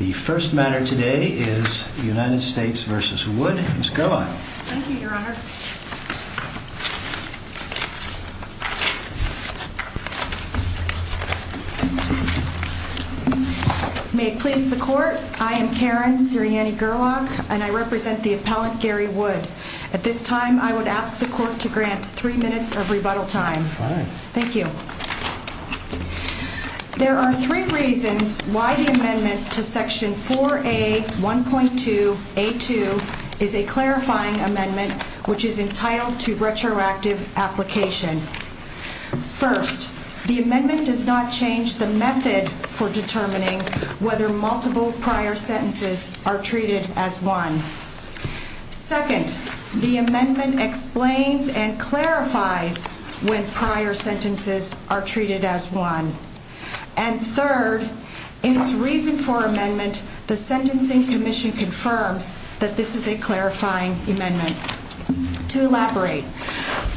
May it please the court, I am Karen Sirianni Gerlach and I represent the appellant Gary Wood. At this time I would ask the court to grant three minutes of rebuttal time. Thank you. There are three reasons why the amendment to section 4A.1.2.A.2 is a clarifying amendment which is entitled to retroactive application. First, the amendment does not change the method for determining whether multiple prior sentences are treated as one. Second, the amendment explains and clarifies when prior sentences are treated as one. And third, in its reason for amendment, the Sentencing Commission confirms that this is a clarifying amendment. To elaborate,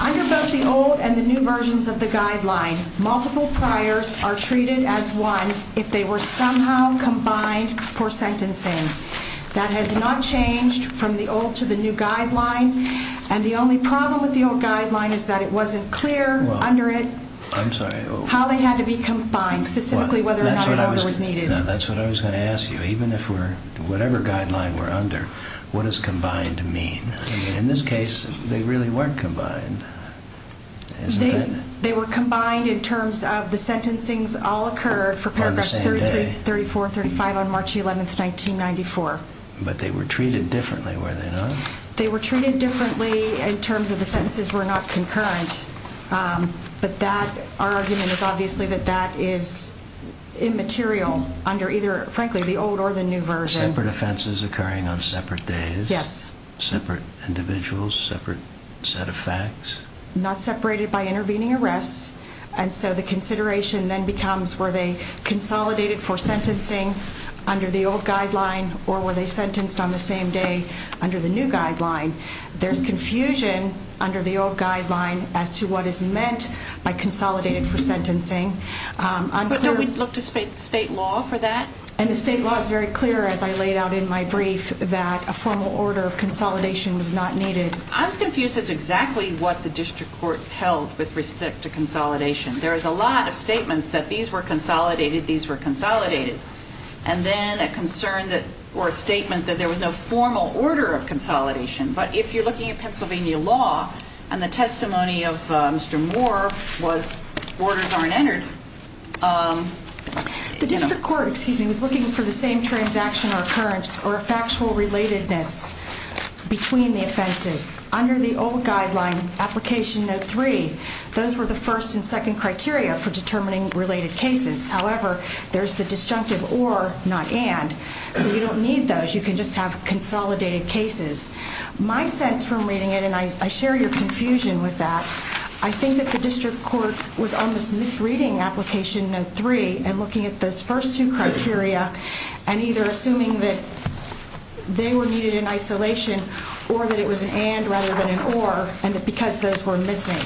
under both the old and the new versions of the guideline, multiple priors are treated as one if they were somehow combined for sentencing. That has not changed from the old to the new guideline and the only problem with the old guideline is that it wasn't clear under it how they had to be combined, specifically whether or not an order was needed. Now that's what I was going to ask you. Even if we're, whatever guideline we're under, what does combined mean? I mean in this case they really weren't combined, isn't it? They were combined in terms of the sentencing's all occurred for paragraph 33, 34, 35 on March 11th, 1994. But they were treated differently, were they not? They were treated differently in terms of the sentences were not concurrent, but that, our argument is obviously that that is immaterial under either, frankly, the old or the new version. Separate offenses occurring on separate days? Yes. Separate individuals, separate set of facts? Not separated by intervening arrests, and so the consideration then becomes were they under the old guideline or were they sentenced on the same day under the new guideline? There's confusion under the old guideline as to what is meant by consolidated for sentencing. But don't we look to state law for that? And the state law is very clear as I laid out in my brief that a formal order of consolidation was not needed. I was confused as to exactly what the district court held with respect to consolidation. There is a lot of statements that these were consolidated, these were consolidated, and then a concern that, or a statement that there was no formal order of consolidation. But if you're looking at Pennsylvania law, and the testimony of Mr. Moore was orders aren't entered. The district court, excuse me, was looking for the same transaction or occurrence or a factual relatedness between the offenses. Under the old guideline, application note three, those were the first and second criteria for determining related cases. However, there's the disjunctive or, not and, so you don't need those. You can just have consolidated cases. My sense from reading it, and I share your confusion with that, I think that the district court was on this misreading application note three and looking at those first two criteria and either assuming that they were needed in isolation or that it was an and rather than an or and that because those were missing.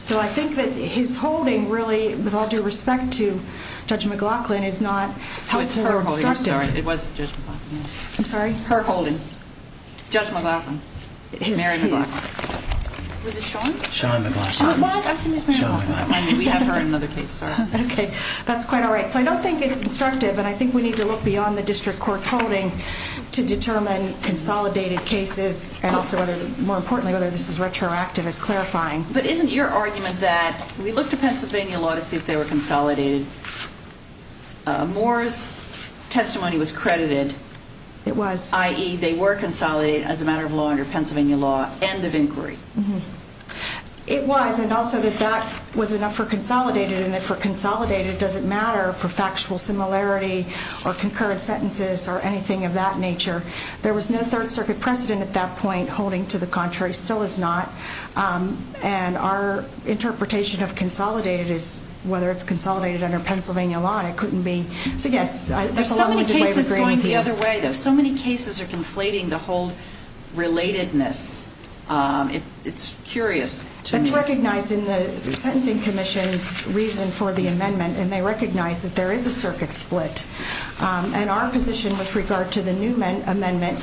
So I think that his holding really, with all due respect to Judge McLaughlin, is not It's her holding. I'm sorry. It was Judge McLaughlin. I'm sorry? Her holding. Judge McLaughlin. His. Mary McLaughlin. Was it Sean? Sean McLaughlin. It was? I'm assuming it's Mary McLaughlin. Sean McLaughlin. I mean, we have her in another case. Sorry. Okay. That's quite all right. So I don't think it's instructive, and I think we need to look beyond the district court's clarifying. But isn't your argument that we look to Pennsylvania law to see if they were consolidated? Moore's testimony was credited. It was. I.E., they were consolidated as a matter of law under Pennsylvania law, end of inquiry. It was. And also that that was enough for consolidated and that for consolidated doesn't matter for factual similarity or concurrent sentences or anything of that nature. There was no Third Circuit precedent at that point holding to the contrary. Still is not. And our interpretation of consolidated is whether it's consolidated under Pennsylvania law. It couldn't be. So, yes. There's so many cases going the other way, though. So many cases are conflating the whole relatedness. It's curious. It's recognized in the Sentencing Commission's reason for the amendment, and they recognize that there is a circuit split. And our position with regard to the new amendment,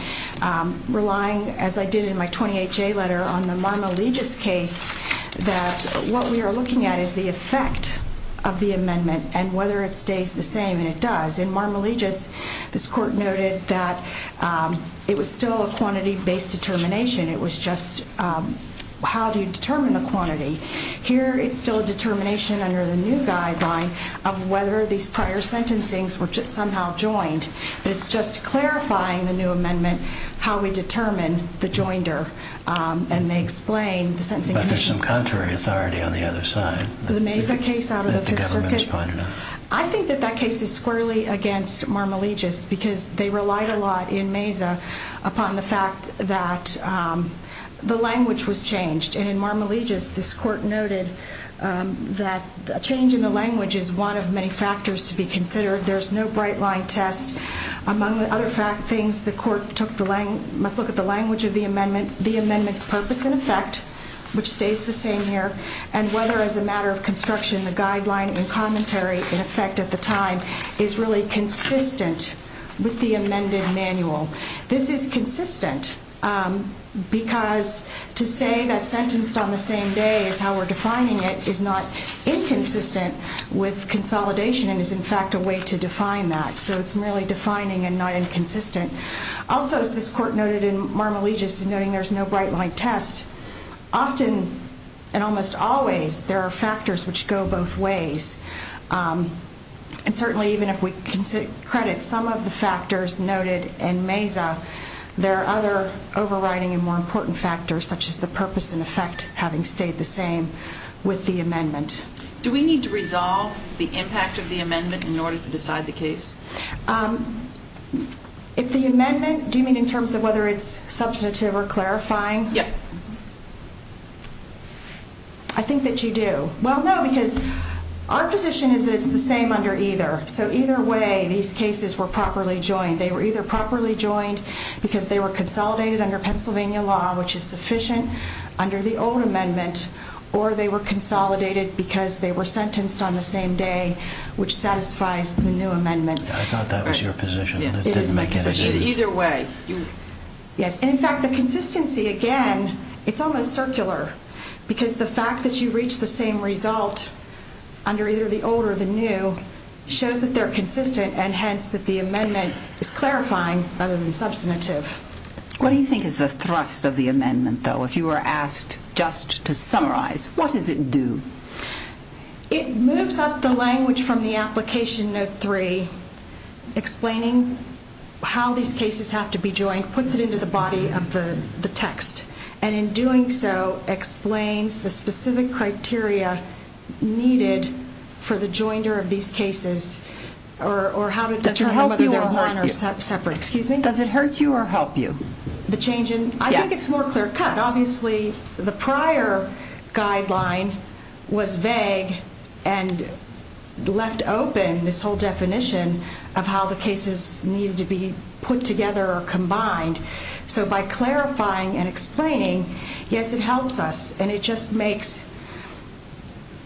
relying, as I did in my 28-J letter, on the Marmalegis case, that what we are looking at is the effect of the amendment and whether it stays the same. And it does. In Marmalegis, this court noted that it was still a quantity-based determination. It was just how do you determine the quantity? Here it's still a determination under the new guideline of whether these prior sentencings were somehow joined. It's just clarifying the new amendment, how we determine the joinder. And they explain, the Sentencing Commission. But there's some contrary authority on the other side. The Mesa case out of the Fifth Circuit. I think that that case is squarely against Marmalegis because they relied a lot in Mesa upon the fact that the language was changed. And in Marmalegis, this court noted that a change in the language is one of many factors to be considered. There's no bright-line test. Among other things, the court must look at the language of the amendment, the amendment's purpose and effect, which stays the same here, and whether, as a matter of construction, the guideline and commentary, in effect, at the time, is really consistent with the amended manual. This is consistent because to say that sentenced on the same day is how we're defining it is not inconsistent with consolidation and is, in fact, a way to define that. So it's merely defining and not inconsistent. Also, as this court noted in Marmalegis, noting there's no bright-line test, often and almost always there are factors which go both ways. And certainly, even if we credit some of the factors noted in Mesa, there are other overriding and more important factors, such as the purpose and effect having stayed the same with the amendment. Do we need to resolve the impact of the amendment in order to decide the case? If the amendment, do you mean in terms of whether it's substantive or clarifying? Yeah. I think that you do. Well, no, because our position is that it's the same under either. So either way, these cases were properly joined. They were either properly joined because they were consolidated under Pennsylvania law, which is sufficient, under the old amendment, or they were consolidated because they were sentenced on the same day, which satisfies the new amendment. I thought that was your position. It didn't make any sense. It is my position. Either way. Yes. And in fact, the consistency, again, it's almost circular because the fact that you reach the same result under either the old or the new shows that they're consistent and hence that the amendment is clarifying rather than substantive. What do you think is the thrust of the amendment, though, if you were asked just to summarize? What does it do? It moves up the language from the application note three, explaining how these cases have to be joined, puts it into the body of the text, and in doing so, explains the specific criteria needed for the joinder of these cases or how to determine whether they're one or separate. Excuse me? Does it hurt you or help you? The change in? Yes. I think it's more clear cut. Obviously, the prior guideline was vague and left open this whole definition of how the cases needed to be put together or combined. So by clarifying and explaining, yes, it helps us and it just makes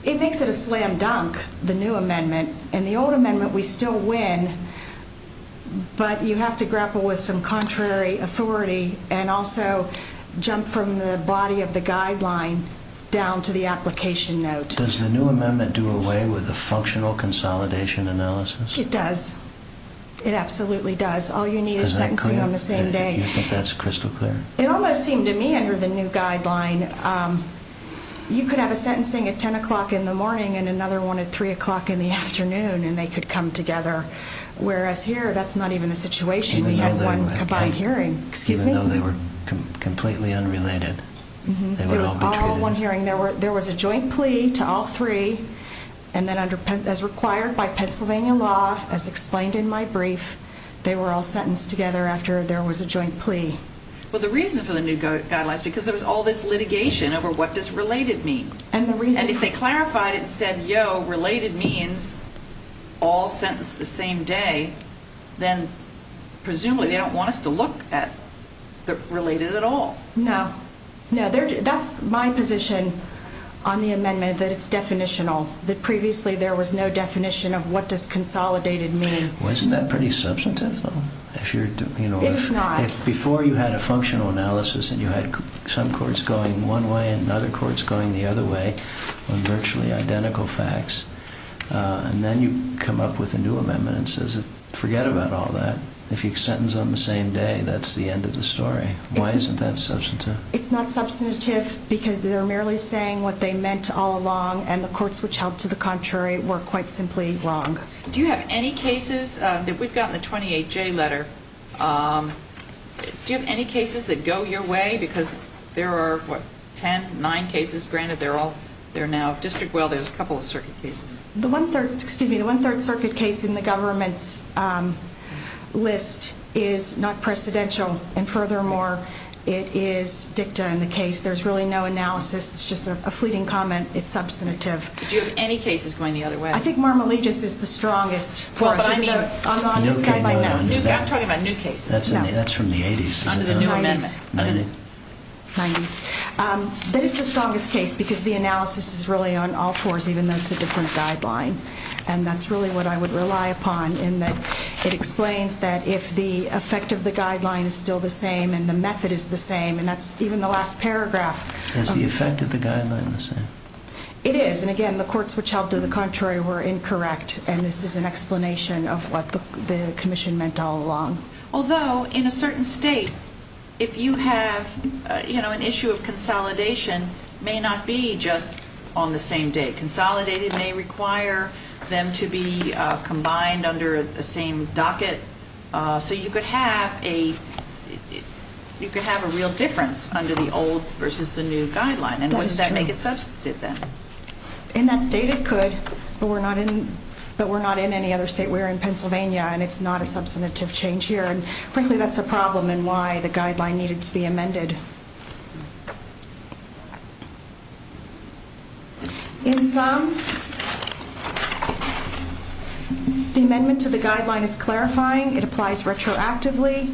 it a slam dunk, the new amendment. In the old amendment, we still win, but you have to grapple with some contrary authority and also jump from the body of the guideline down to the application note. Does the new amendment do away with the functional consolidation analysis? It does. It absolutely does. All you need is sentencing on the same day. Is that clear? You think that's crystal clear? It almost seemed to me under the new guideline, you could have a sentencing at 10 o'clock in the morning and another one at 3 o'clock in the afternoon and they could come together. Whereas here, that's not even a situation, you have one combined hearing. Excuse me? Even though they were completely unrelated, they would all be treated? There was a joint plea to all three and then as required by Pennsylvania law, as explained in my brief, they were all sentenced together after there was a joint plea. Well, the reason for the new guideline is because there was all this litigation over what does related mean? And if they clarified it and said, yo, related means, all sentenced the same day, then presumably they don't want us to look at the related at all. No. No. That's my position on the amendment, that it's definitional, that previously there was no definition of what does consolidated mean. Wasn't that pretty substantive though? It is not. Before you had a functional analysis and you had some courts going one way and other courts going the other way on virtually identical facts and then you come up with a new amendment and says forget about all that. If you're sentenced on the same day, that's the end of the story. Why isn't that substantive? It's not substantive because they're merely saying what they meant all along and the courts which held to the contrary were quite simply wrong. Do you have any cases that we've got in the 28J letter, do you have any cases that go your way? Because there are, what, ten, nine cases granted, they're all, they're now district, well, there's a couple of circuit cases. The one third, excuse me, the one third circuit case in the government's list is not precedential and furthermore it is dicta in the case, there's really no analysis, it's just a fleeting comment, it's substantive. Do you have any cases going the other way? I think Marmalegis is the strongest for us. Well, but I mean. I'm on this guy right now. I'm talking about new cases. That's from the 80s. Under the new amendment. 90s. 90s. 90s. That is the strongest case because the analysis is really on all fours even though it's a different guideline and that's really what I would rely upon in that it explains that if the effect of the guideline is still the same and the method is the same and that's even the last paragraph. Is the effect of the guideline the same? It is and again the courts which held to the contrary were incorrect and this is an explanation of what the commission meant all along. Although in a certain state if you have an issue of consolidation may not be just on the same day. Consolidated may require them to be combined under the same docket so you could have a real difference under the old versus the new guideline and wouldn't that make it substantive then? In that state it could but we're not in any other state. We're in Pennsylvania and it's not a substantive change here and frankly that's a problem and why the guideline needed to be amended. In sum, the amendment to the guideline is clarifying. It applies retroactively.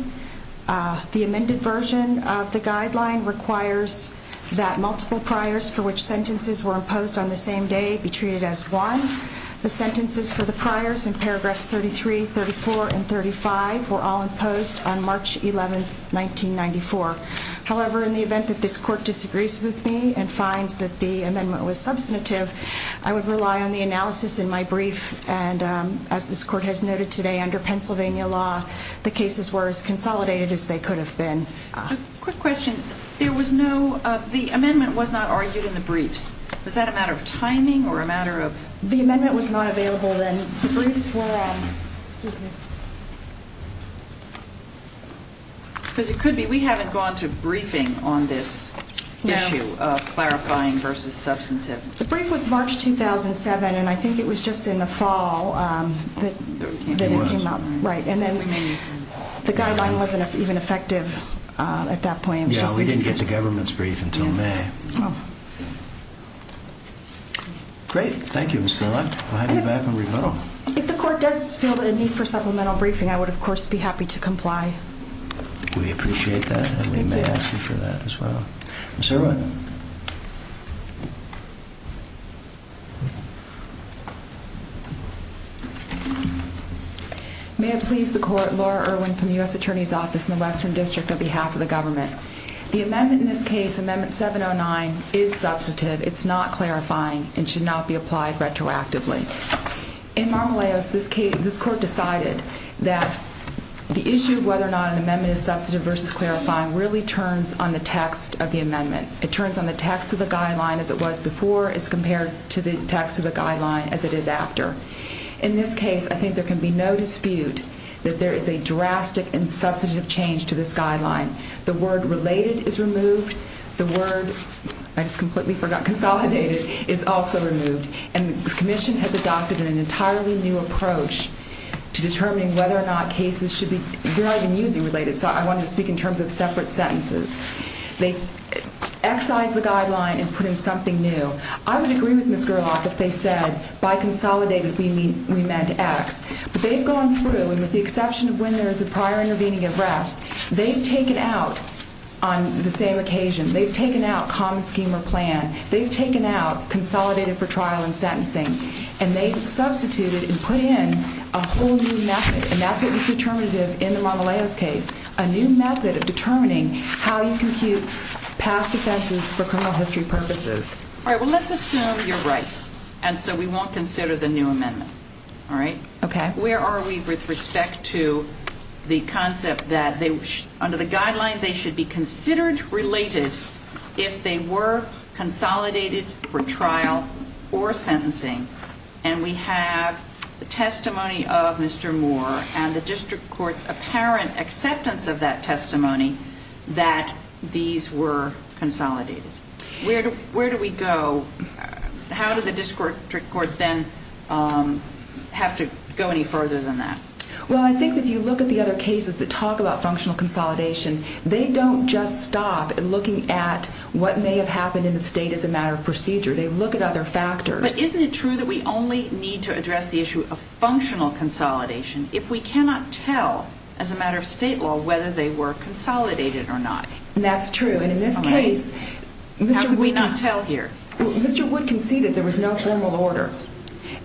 The amended version of the guideline requires that multiple priors for which sentences were imposed on the same day be treated as one. The sentences for the priors in paragraphs 33, 34, and 35 were all imposed on March 11th, 1994. However, in the event that this court disagrees with me and finds that the amendment was substantive I would rely on the analysis in my brief and as this court has noted today under Pennsylvania law the cases were as consolidated as they could have been. Quick question, the amendment was not argued in the briefs, was that a matter of timing or a matter of? The amendment was not available then. The briefs were on, excuse me. Because it could be, we haven't gone to briefing on this issue of clarifying versus substantive. The brief was March 2007 and I think it was just in the fall that it came up. And then the guideline wasn't even effective at that point. Yeah, we didn't get the government's brief until May. Okay. Great, thank you Ms. Miller, I'll have you back when we go. If the court does feel that a need for supplemental briefing I would of course be happy to comply. We appreciate that and we may ask you for that as well. Ms. Irwin. May it please the court, Laura Irwin from the U.S. Attorney's Office in the Western District on behalf of the government. The amendment in this case, Amendment 709 is substantive, it's not clarifying and should not be applied retroactively. In Marmoleos this court decided that the issue of whether or not an amendment is substantive versus clarifying really turns on the text of the amendment. It turns on the text of the guideline as it was before as compared to the text of the guideline as it is after. In this case I think there can be no dispute that there is a drastic and substantive change to this guideline. The word related is removed, the word, I just completely forgot, consolidated is also removed and the commission has adopted an entirely new approach to determining whether or not cases should be, they're not even using related so I wanted to speak in terms of separate sentences. They excise the guideline and put in something new. I would agree with Ms. Gerlach if they said by consolidated we meant X. But they've gone through and with the exception of when there is a prior intervening arrest they've taken out on the same occasion, they've taken out common scheme or plan, they've taken out consolidated for trial and sentencing and they've substituted and put in a whole new method and that's what was determinative in the Marmoleos case. A new method of determining how you compute past offenses for criminal history purposes. Alright, well let's assume you're right and so we won't consider the new amendment, alright? Okay. Where are we with respect to the concept that under the guideline they should be considered related if they were consolidated for trial or sentencing and we have the testimony of Mr. Moore and the district court's apparent acceptance of that testimony that these were consolidated. Where do we go? How did the district court then have to go any further than that? Well, I think if you look at the other cases that talk about functional consolidation, they don't just stop at looking at what may have happened in the state as a matter of procedure. They look at other factors. But isn't it true that we only need to address the issue of functional consolidation if we cannot tell as a matter of state law whether they were consolidated or not? That's true. And in this case... How could we not tell here? Mr. Wood conceded there was no formal order.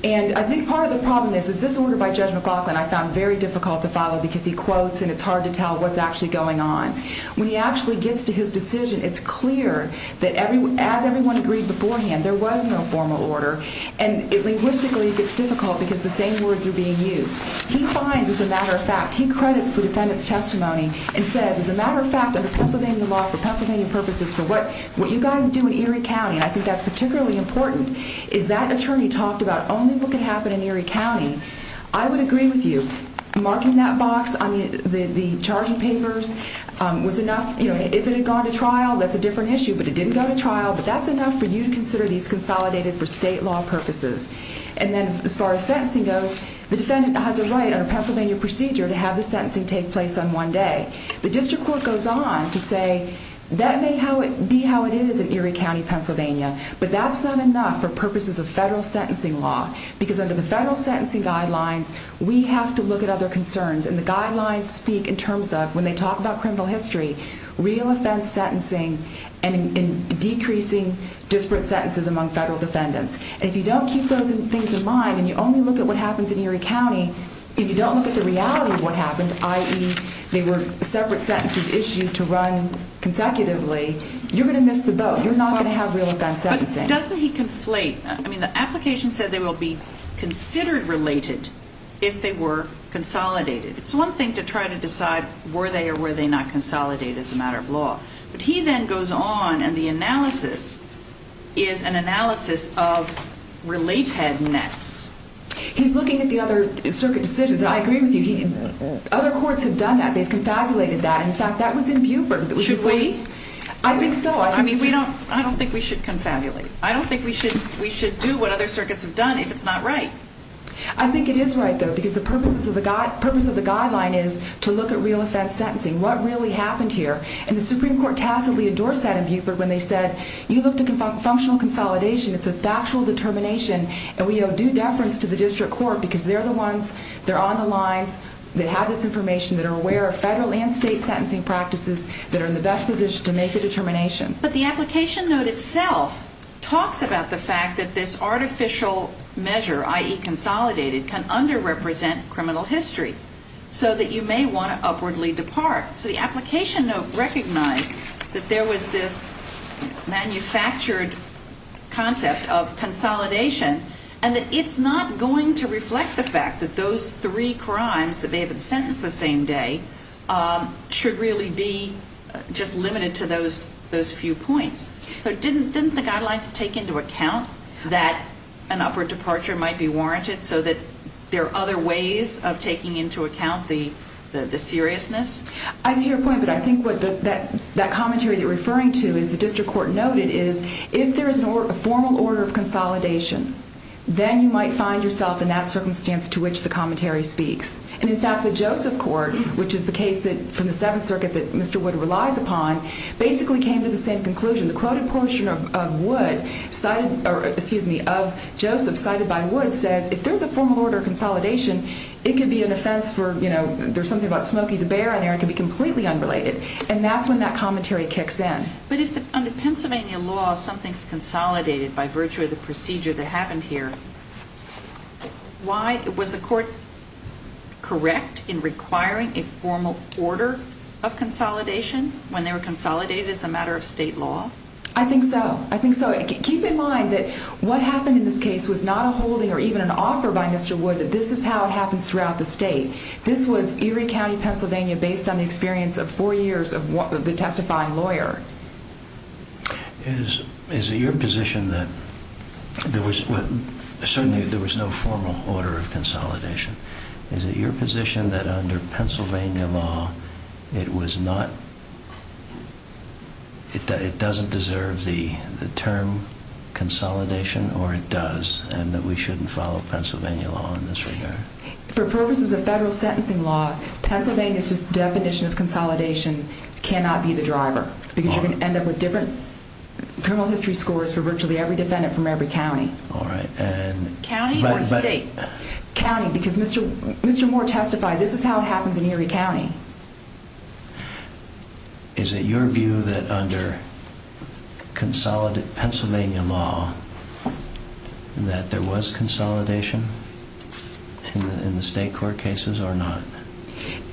And I think part of the problem is, is this order by Judge McLaughlin I found very difficult to follow because he quotes and it's hard to tell what's actually going on. When he actually gets to his decision, it's clear that as everyone agreed beforehand there was no formal order and linguistically it gets difficult because the same words are being used. He finds as a matter of fact, he credits the defendant's testimony and says as a matter of fact, under Pennsylvania law, for Pennsylvania purposes, for what you guys do in Erie County, and I think that's particularly important, is that attorney talked about only what can happen in Erie County. I would agree with you. Marking that box on the charging papers was enough, you know, if it had gone to trial, that's a different issue, but it didn't go to trial, but that's enough for you to consider these consolidated for state law purposes. And then as far as sentencing goes, the defendant has a right under Pennsylvania procedure to have the sentencing take place on one day. The district court goes on to say that may be how it is in Erie County, Pennsylvania, but that's not enough for purposes of federal sentencing law because under the federal sentencing guidelines, we have to look at other concerns and the guidelines speak in terms of when they talk about criminal history, real offense sentencing and decreasing disparate sentences among federal defendants. And if you don't keep those things in mind and you only look at what happens in Erie separate sentences issued to run consecutively, you're going to miss the boat. You're not going to have real offense sentencing. But doesn't he conflate? I mean, the application said they will be considered related if they were consolidated. It's one thing to try to decide were they or were they not consolidated as a matter of law, but he then goes on and the analysis is an analysis of relatedness. He's looking at the other circuit decisions and I agree with you. Other courts have done that. They've confabulated that. In fact, that was in Buford. Should we? I think so. I mean, we don't, I don't think we should confabulate. I don't think we should, we should do what other circuits have done if it's not right. I think it is right though, because the purpose of the guideline is to look at real offense sentencing. What really happened here? And the Supreme Court tacitly endorsed that in Buford when they said, you looked at functional consolidation. It's a factual determination and we owe due deference to the district court because they're the ones that are on the lines, that have this information, that are aware of federal and state sentencing practices, that are in the best position to make the determination. But the application note itself talks about the fact that this artificial measure, i.e. consolidated, can underrepresent criminal history so that you may want to upwardly depart. So the application note recognized that there was this manufactured concept of consolidation and that it's not going to reflect the fact that those three crimes that may have been sentenced the same day should really be just limited to those few points. So didn't the guidelines take into account that an upward departure might be warranted so that there are other ways of taking into account the seriousness? I see your point, but I think what that commentary you're referring to is the district court noted is, if there is a formal order of consolidation, then you might find yourself in that circumstance to which the commentary speaks. And in fact, the Joseph Court, which is the case from the Seventh Circuit that Mr. Wood relies upon, basically came to the same conclusion. The quoted portion of Joseph cited by Wood says, if there's a formal order of consolidation, it could be an offense for, you know, there's something about Smokey the Bear in there, it could be completely unrelated. And that's when that commentary kicks in. But if under Pennsylvania law, something's consolidated by virtue of the procedure that happened here, why, was the court correct in requiring a formal order of consolidation when they were consolidated as a matter of state law? I think so. I think so. Keep in mind that what happened in this case was not a holding or even an offer by Mr. Wood that this is how it happens throughout the state. This was Erie County, Pennsylvania, based on the experience of four years of the testifying lawyer. Is it your position that there was, certainly there was no formal order of consolidation. Is it your position that under Pennsylvania law, it was not, it doesn't deserve the term consolidation or it does, and that we shouldn't follow Pennsylvania law in this regard? For purposes of federal sentencing law, Pennsylvania's definition of consolidation cannot be the driver because you're going to end up with different criminal history scores for virtually every defendant from every county. All right. And... County or state? County. Because Mr. Moore testified, this is how it happens in Erie County. Is it your view that under Pennsylvania law, that there was consolidation in the state court cases or not?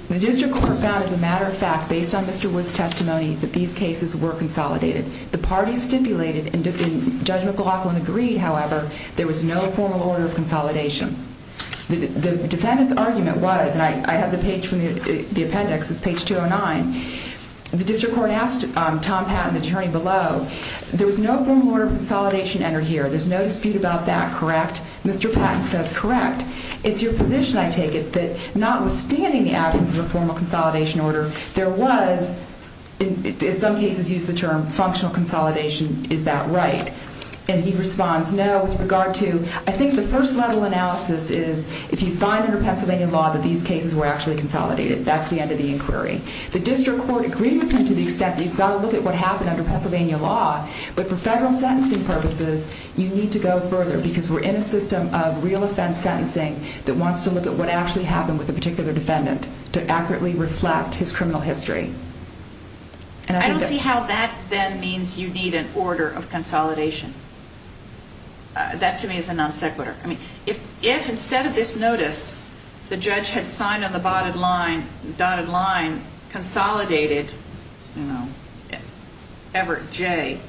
The district court found, as a matter of fact, based on Mr. Wood's testimony, that these cases were consolidated. The parties stipulated, and Judge McLaughlin agreed, however, there was no formal order of consolidation. The defendant's argument was, and I have the page from the appendix, it's page 209. The district court asked Tom Patton, the attorney below, there was no formal order of consolidation entered here. There's no dispute about that, correct? Mr. Patton says, correct. It's your position, I take it, that notwithstanding the absence of a formal consolidation order, there was, in some cases used the term, functional consolidation. Is that right? And he responds, no, with regard to, I think the first level analysis is, if you find under Pennsylvania law that these cases were actually consolidated, that's the end of the inquiry. The district court agreed with him to the extent that you've got to look at what happened under Pennsylvania law, but for federal sentencing purposes, you need to go further because we're in a system of real offense sentencing that wants to look at what actually happened with a particular defendant to accurately reflect his criminal history. I don't see how that then means you need an order of consolidation. That to me is a non sequitur. I mean, if instead of this notice, the judge had signed on the dotted line, consolidated, you know, Everett J.,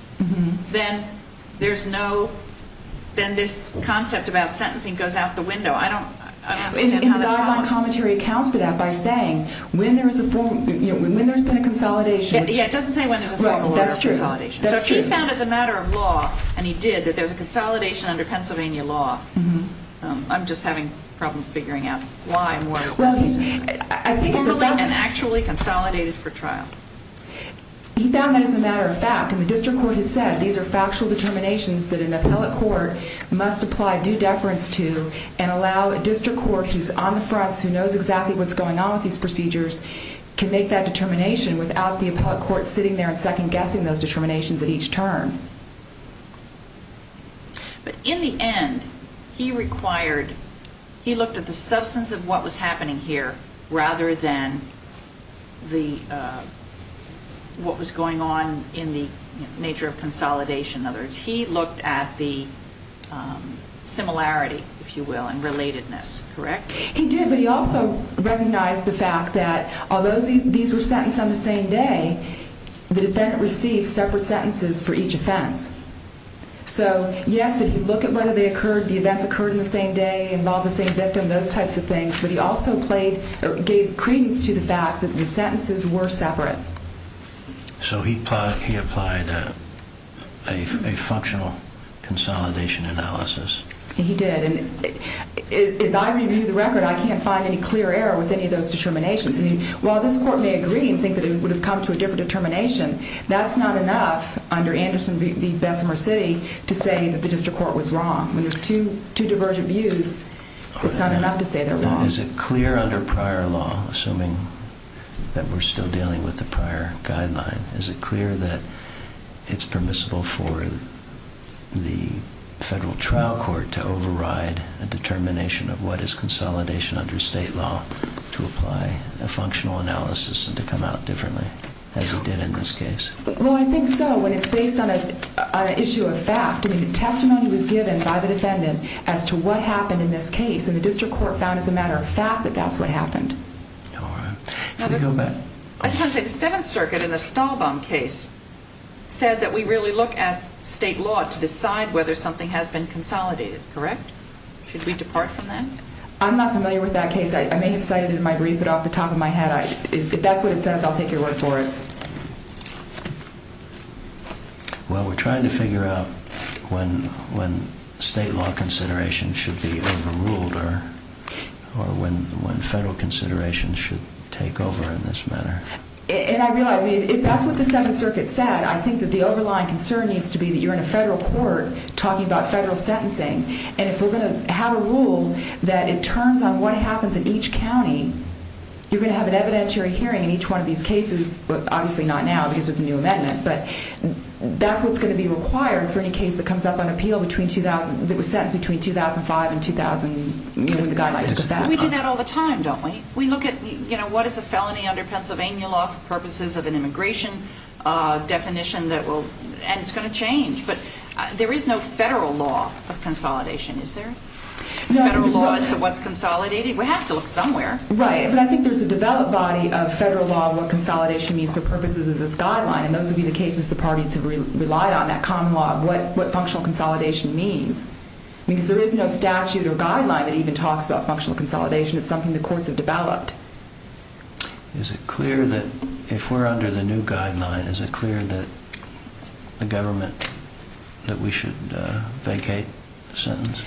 then there's no, then this concept about sentencing goes out the I don't understand how that's possible. And he responds to that by saying, when there is a form, you know, when there's been a consolidation. Yeah, it doesn't say when there's a formal order of consolidation. Right, that's true. That's true. So he found as a matter of law, and he did, that there's a consolidation under Pennsylvania law. Mm-hmm. I'm just having a problem figuring out why and where it was formally and actually consolidated for trial. He found that as a matter of fact, and the district court has said, these are factual determinations that an appellate court must apply due deference to and allow a district who's on the fronts, who knows exactly what's going on with these procedures, can make that determination without the appellate court sitting there and second guessing those determinations at each turn. But in the end, he required, he looked at the substance of what was happening here rather than the, what was going on in the nature of consolidation. In other words, he looked at the similarity, if you will, and relatedness. Correct? He did. But he also recognized the fact that although these were sentenced on the same day, the defendant received separate sentences for each offense. So yes, if you look at whether they occurred, the events occurred on the same day, involved the same victim, those types of things, but he also played, or gave credence to the fact that the sentences were separate. So he applied a functional consolidation analysis? He did. And as I review the record, I can't find any clear error with any of those determinations. I mean, while this court may agree and think that it would have come to a different determination, that's not enough under Anderson v. Bessemer City to say that the district court was wrong. When there's two divergent views, it's not enough to say they're wrong. Is it clear under prior law, assuming that we're still dealing with the prior guideline, is it clear that it's permissible for the federal trial court to override a determination of what is consolidation under state law to apply a functional analysis and to come out differently, as he did in this case? Well, I think so, when it's based on an issue of fact. I mean, testimony was given by the defendant as to what happened in this case, and the matter of fact that that's what happened. All right. Should we go back? I just want to say, the Seventh Circuit in the Stahlbaum case said that we really look at state law to decide whether something has been consolidated, correct? Should we depart from that? I'm not familiar with that case. I may have cited it in my brief, but off the top of my head, if that's what it says, I'll take your word for it. Well, we're trying to figure out when state law consideration should be overruled or when federal consideration should take over in this matter. And I realize, I mean, if that's what the Second Circuit said, I think that the overlying concern needs to be that you're in a federal court talking about federal sentencing, and if we're going to have a rule that it turns on what happens in each county, you're going to have an evidentiary hearing in each one of these cases. Well, obviously not now because there's a new amendment, but that's what's going to be required for any case that comes up on appeal that was sentenced between 2005 and 2000, you know, with the guidelines. We do that all the time, don't we? We look at, you know, what is a felony under Pennsylvania law for purposes of an immigration definition that will, and it's going to change, but there is no federal law of consolidation, is there? Federal law is what's consolidated. We have to look somewhere. Right, but I think there's a developed body of federal law of what consolidation means for purposes of this guideline, and those would be the cases the parties have relied on, that common law of what functional consolidation means, because there is no statute or guideline that even talks about functional consolidation. It's something the courts have developed. Is it clear that if we're under the new guideline, is it clear that the government, that we should vacate the sentence?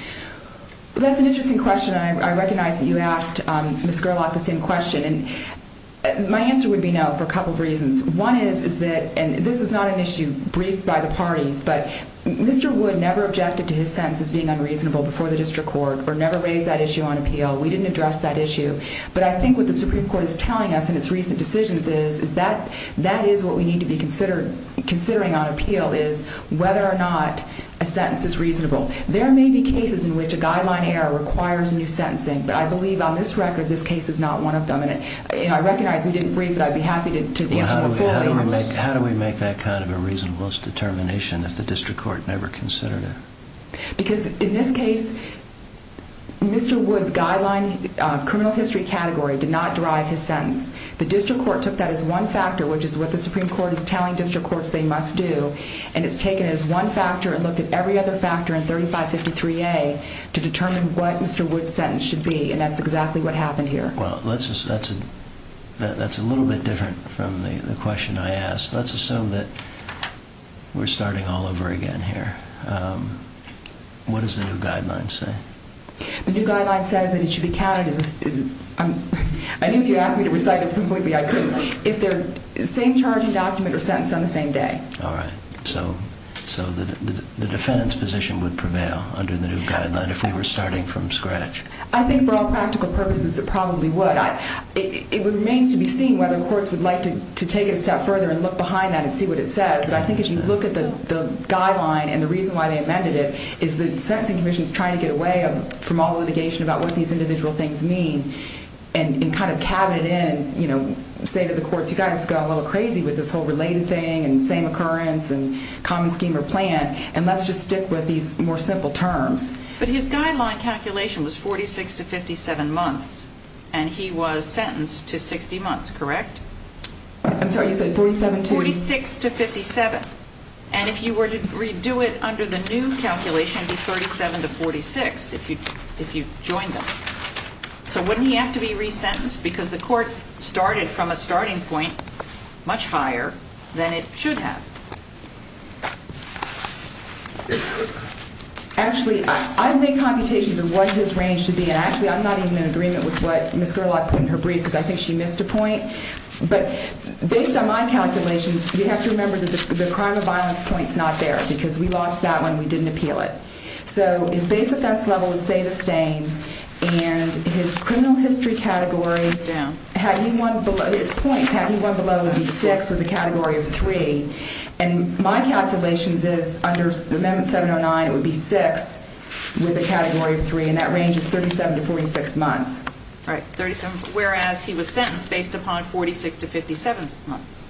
That's an interesting question, and I recognize that you asked Ms. Gerlach the same question, and my answer would be no for a couple of reasons. One is that, and this is not an issue briefed by the parties, but Mr. Wood never objected to his sentence as being unreasonable before the district court, or never raised that issue on appeal. We didn't address that issue, but I think what the Supreme Court is telling us in its recent decisions is that that is what we need to be considering on appeal, is whether or not a sentence is reasonable. There may be cases in which a guideline error requires new sentencing, but I believe on this record, this case is not one of them. And I recognize we didn't brief, but I'd be happy to answer you fully on this. How do we make that kind of a reasonableness determination if the district court never considered it? Because in this case, Mr. Wood's guideline criminal history category did not drive his sentence. The district court took that as one factor, which is what the Supreme Court is telling district courts they must do, and it's taken it as one factor and looked at every other factor in 3553A to determine what Mr. Wood's sentence should be, and that's exactly what happened here. Well, that's a little bit different from the question I asked. Let's assume that we're starting all over again here. What does the new guideline say? The new guideline says that it should be counted as... I knew if you asked me to recite it completely, I could. If they're... Same charging document or sentence on the same day. All right. So the defendant's position would prevail under the new guideline if we were starting from scratch. I think for all practical purposes, it probably would. It remains to be seen whether courts would like to take it a step further and look behind that and see what it says, but I think as you look at the guideline and the reason why they amended it is the sentencing commission's trying to get away from all the litigation about what these individual things mean and kind of cab it in and say to the courts, you with this whole related thing and same occurrence and common scheme or plan, and let's just stick with these more simple terms. But his guideline calculation was 46 to 57 months, and he was sentenced to 60 months, correct? I'm sorry. You said 47 to... 46 to 57, and if you were to redo it under the new calculation, it would be 37 to 46 if you joined them. So wouldn't he have to be resentenced because the court started from a starting point much higher than it should have? Actually, I've made computations of what his range should be, and actually I'm not even in agreement with what Ms. Gerlach put in her brief because I think she missed a point, but based on my calculations, you have to remember that the crime of violence point is not there because we lost that one. We didn't appeal it. So his base offense level would say the same, and his criminal history category... Put it down. His points, had he won below, would be six with a category of three, and my calculations is under Amendment 709, it would be six with a category of three, and that range is 37 to 46 months. All right. Whereas he was sentenced based upon 46 to 57 months.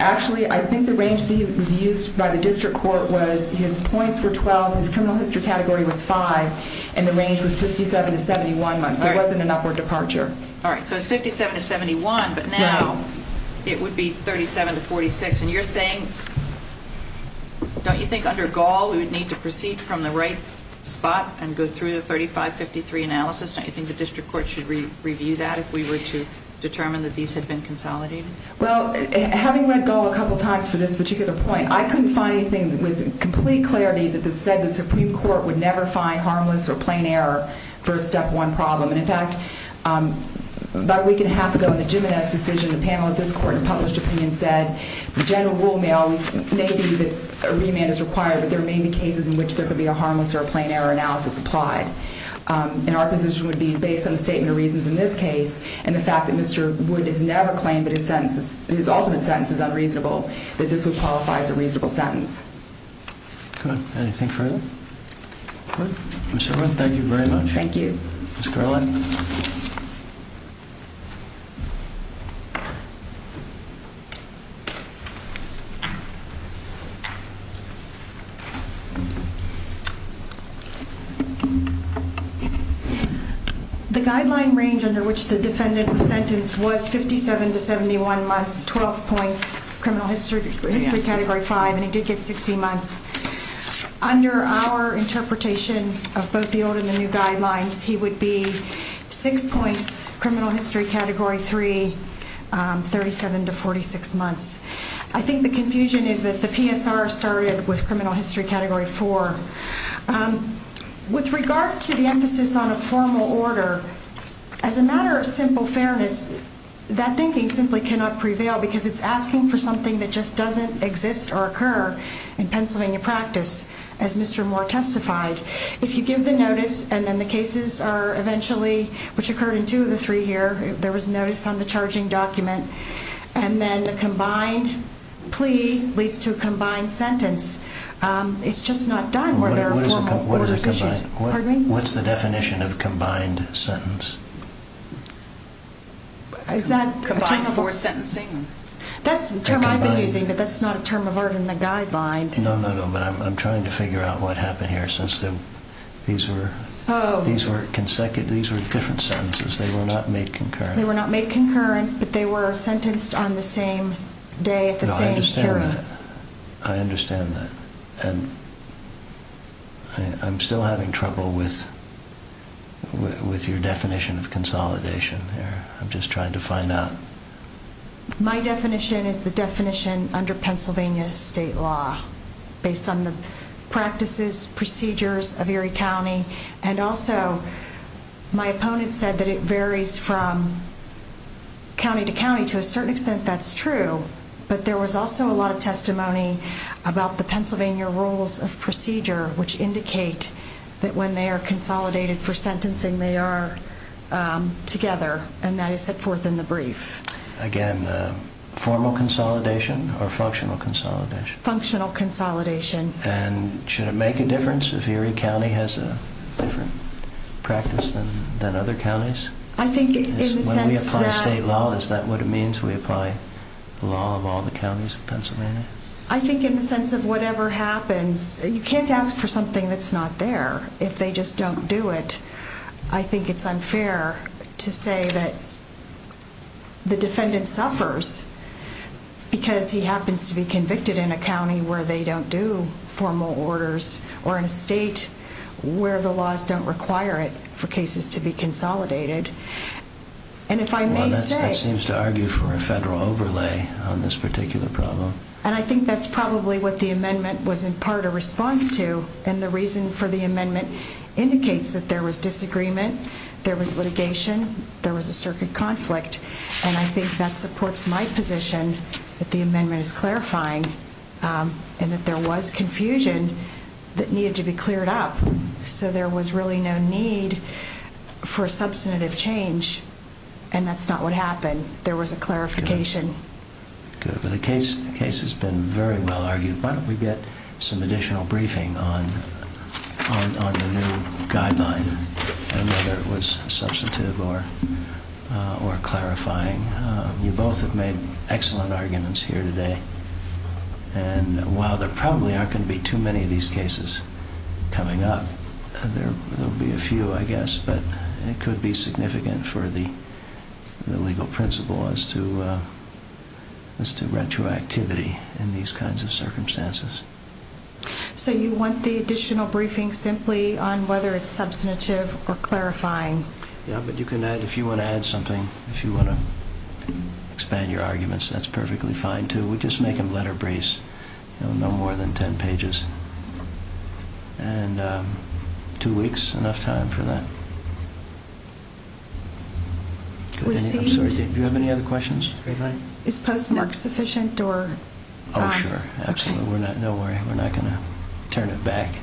Actually, I think the range that was used by the district court was his points were 12, his criminal history category was five, and the range was 57 to 71 months. There wasn't an upward departure. All right. So it's 57 to 71, but now it would be 37 to 46, and you're saying, don't you think under Gall we would need to proceed from the right spot and go through the 35-53 analysis? Don't you think the district court should review that if we were to determine that these have been consolidated? Well, having read Gall a couple times for this particular point, I couldn't find anything with complete clarity that said the Supreme Court would never find harmless or plain error for a step one problem. And in fact, about a week and a half ago in the Jimenez decision, a panel of this court and published opinion said the general rule may be that a remand is required, but there may be cases in which there could be a harmless or a plain error analysis applied. And our position would be based on the statement of reasons in this case, and the fact that Mr. Wood has never claimed that his ultimate sentence is unreasonable, that this would qualify as a reasonable sentence. Good. Anything further? Mr. Wood, thank you very much. Thank you. Ms. Carlin? The guideline range under which the defendant was sentenced was 57 to 71 months, 12 points, criminal history category 5, and he did get 16 months. Under our interpretation of both the old and the new guidelines, he would be 6 points, criminal history category 3, 37 to 46 months. I think the confusion is that the PSR started with criminal history category 4. With regard to the emphasis on a formal order, as a matter of simple fairness, that thinking simply cannot prevail because it's asking for something that just doesn't exist or occur in Pennsylvania practice, as Mr. Moore testified. If you give the notice, and then the cases are eventually, which occurred in two of the three here, there was notice on the charging document, and then a combined plea leads to a combined sentence, it's just not done where there are formal orders issues. Pardon me? What's the definition of combined sentence? Combined for sentencing. That's the term I've been using, but that's not a term of art in the guideline. No, no, no, but I'm trying to figure out what happened here since these were different sentences. They were not made concurrent. They were not made concurrent, but they were sentenced on the same day at the same period. No, I understand that. I understand that, and I'm still having trouble with your definition of consolidation here. I'm just trying to find out. My definition is the definition under Pennsylvania state law based on the practices, procedures of Erie County, and also my opponent said that it varies from county to county. To a certain extent, that's true, but there was also a lot of testimony about the Pennsylvania rules of procedure, which indicate that when they are consolidated for sentencing, they are together, and that is set forth in the brief. Again, formal consolidation or functional consolidation? Functional consolidation. And should it make a difference if Erie County has a different practice than other counties? I think in the sense that... When we apply state law, is that what it means we apply the law of all the counties of Pennsylvania? I think in the sense of whatever happens, you can't ask for something that's not there if they just don't do it. I think it's unfair to say that the defendant suffers because he happens to be convicted in a county where they don't do formal orders, or in a state where the laws don't require it for cases to be consolidated. And if I may say... Well, that seems to argue for a federal overlay on this particular problem. And I think that's probably what the amendment was in part a response to, and the reason for the amendment indicates that there was disagreement, there was litigation, there was a circuit conflict. And I think that supports my position that the amendment is clarifying, and that there was confusion that needed to be cleared up. So there was really no need for a substantive change, and that's not what happened. There was a clarification. Good. The case has been very well argued. Why don't we get some additional briefing on the new guideline, and whether it was substantive or clarifying. You both have made excellent arguments here today. And while there probably aren't going to be too many of these cases coming up, there will be a few, I guess, but it could be significant for the legal principle as to retroactivity in these kinds of circumstances. So you want the additional briefing simply on whether it's substantive or clarifying. Yeah, but you can add, if you want to add something, if you want to expand your arguments, that's perfectly fine too. We just make them letter briefs, no more than 10 pages. And two weeks, enough time for that. I'm sorry, do you have any other questions? Is postmark sufficient? Oh, sure. Absolutely. No worry. We're not going to turn it back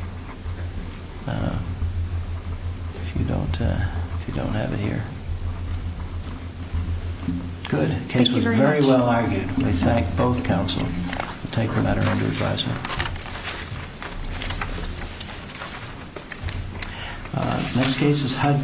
if you don't have it here. Good. The case was very well argued. We thank both counsel. We'll take the matter under advisement.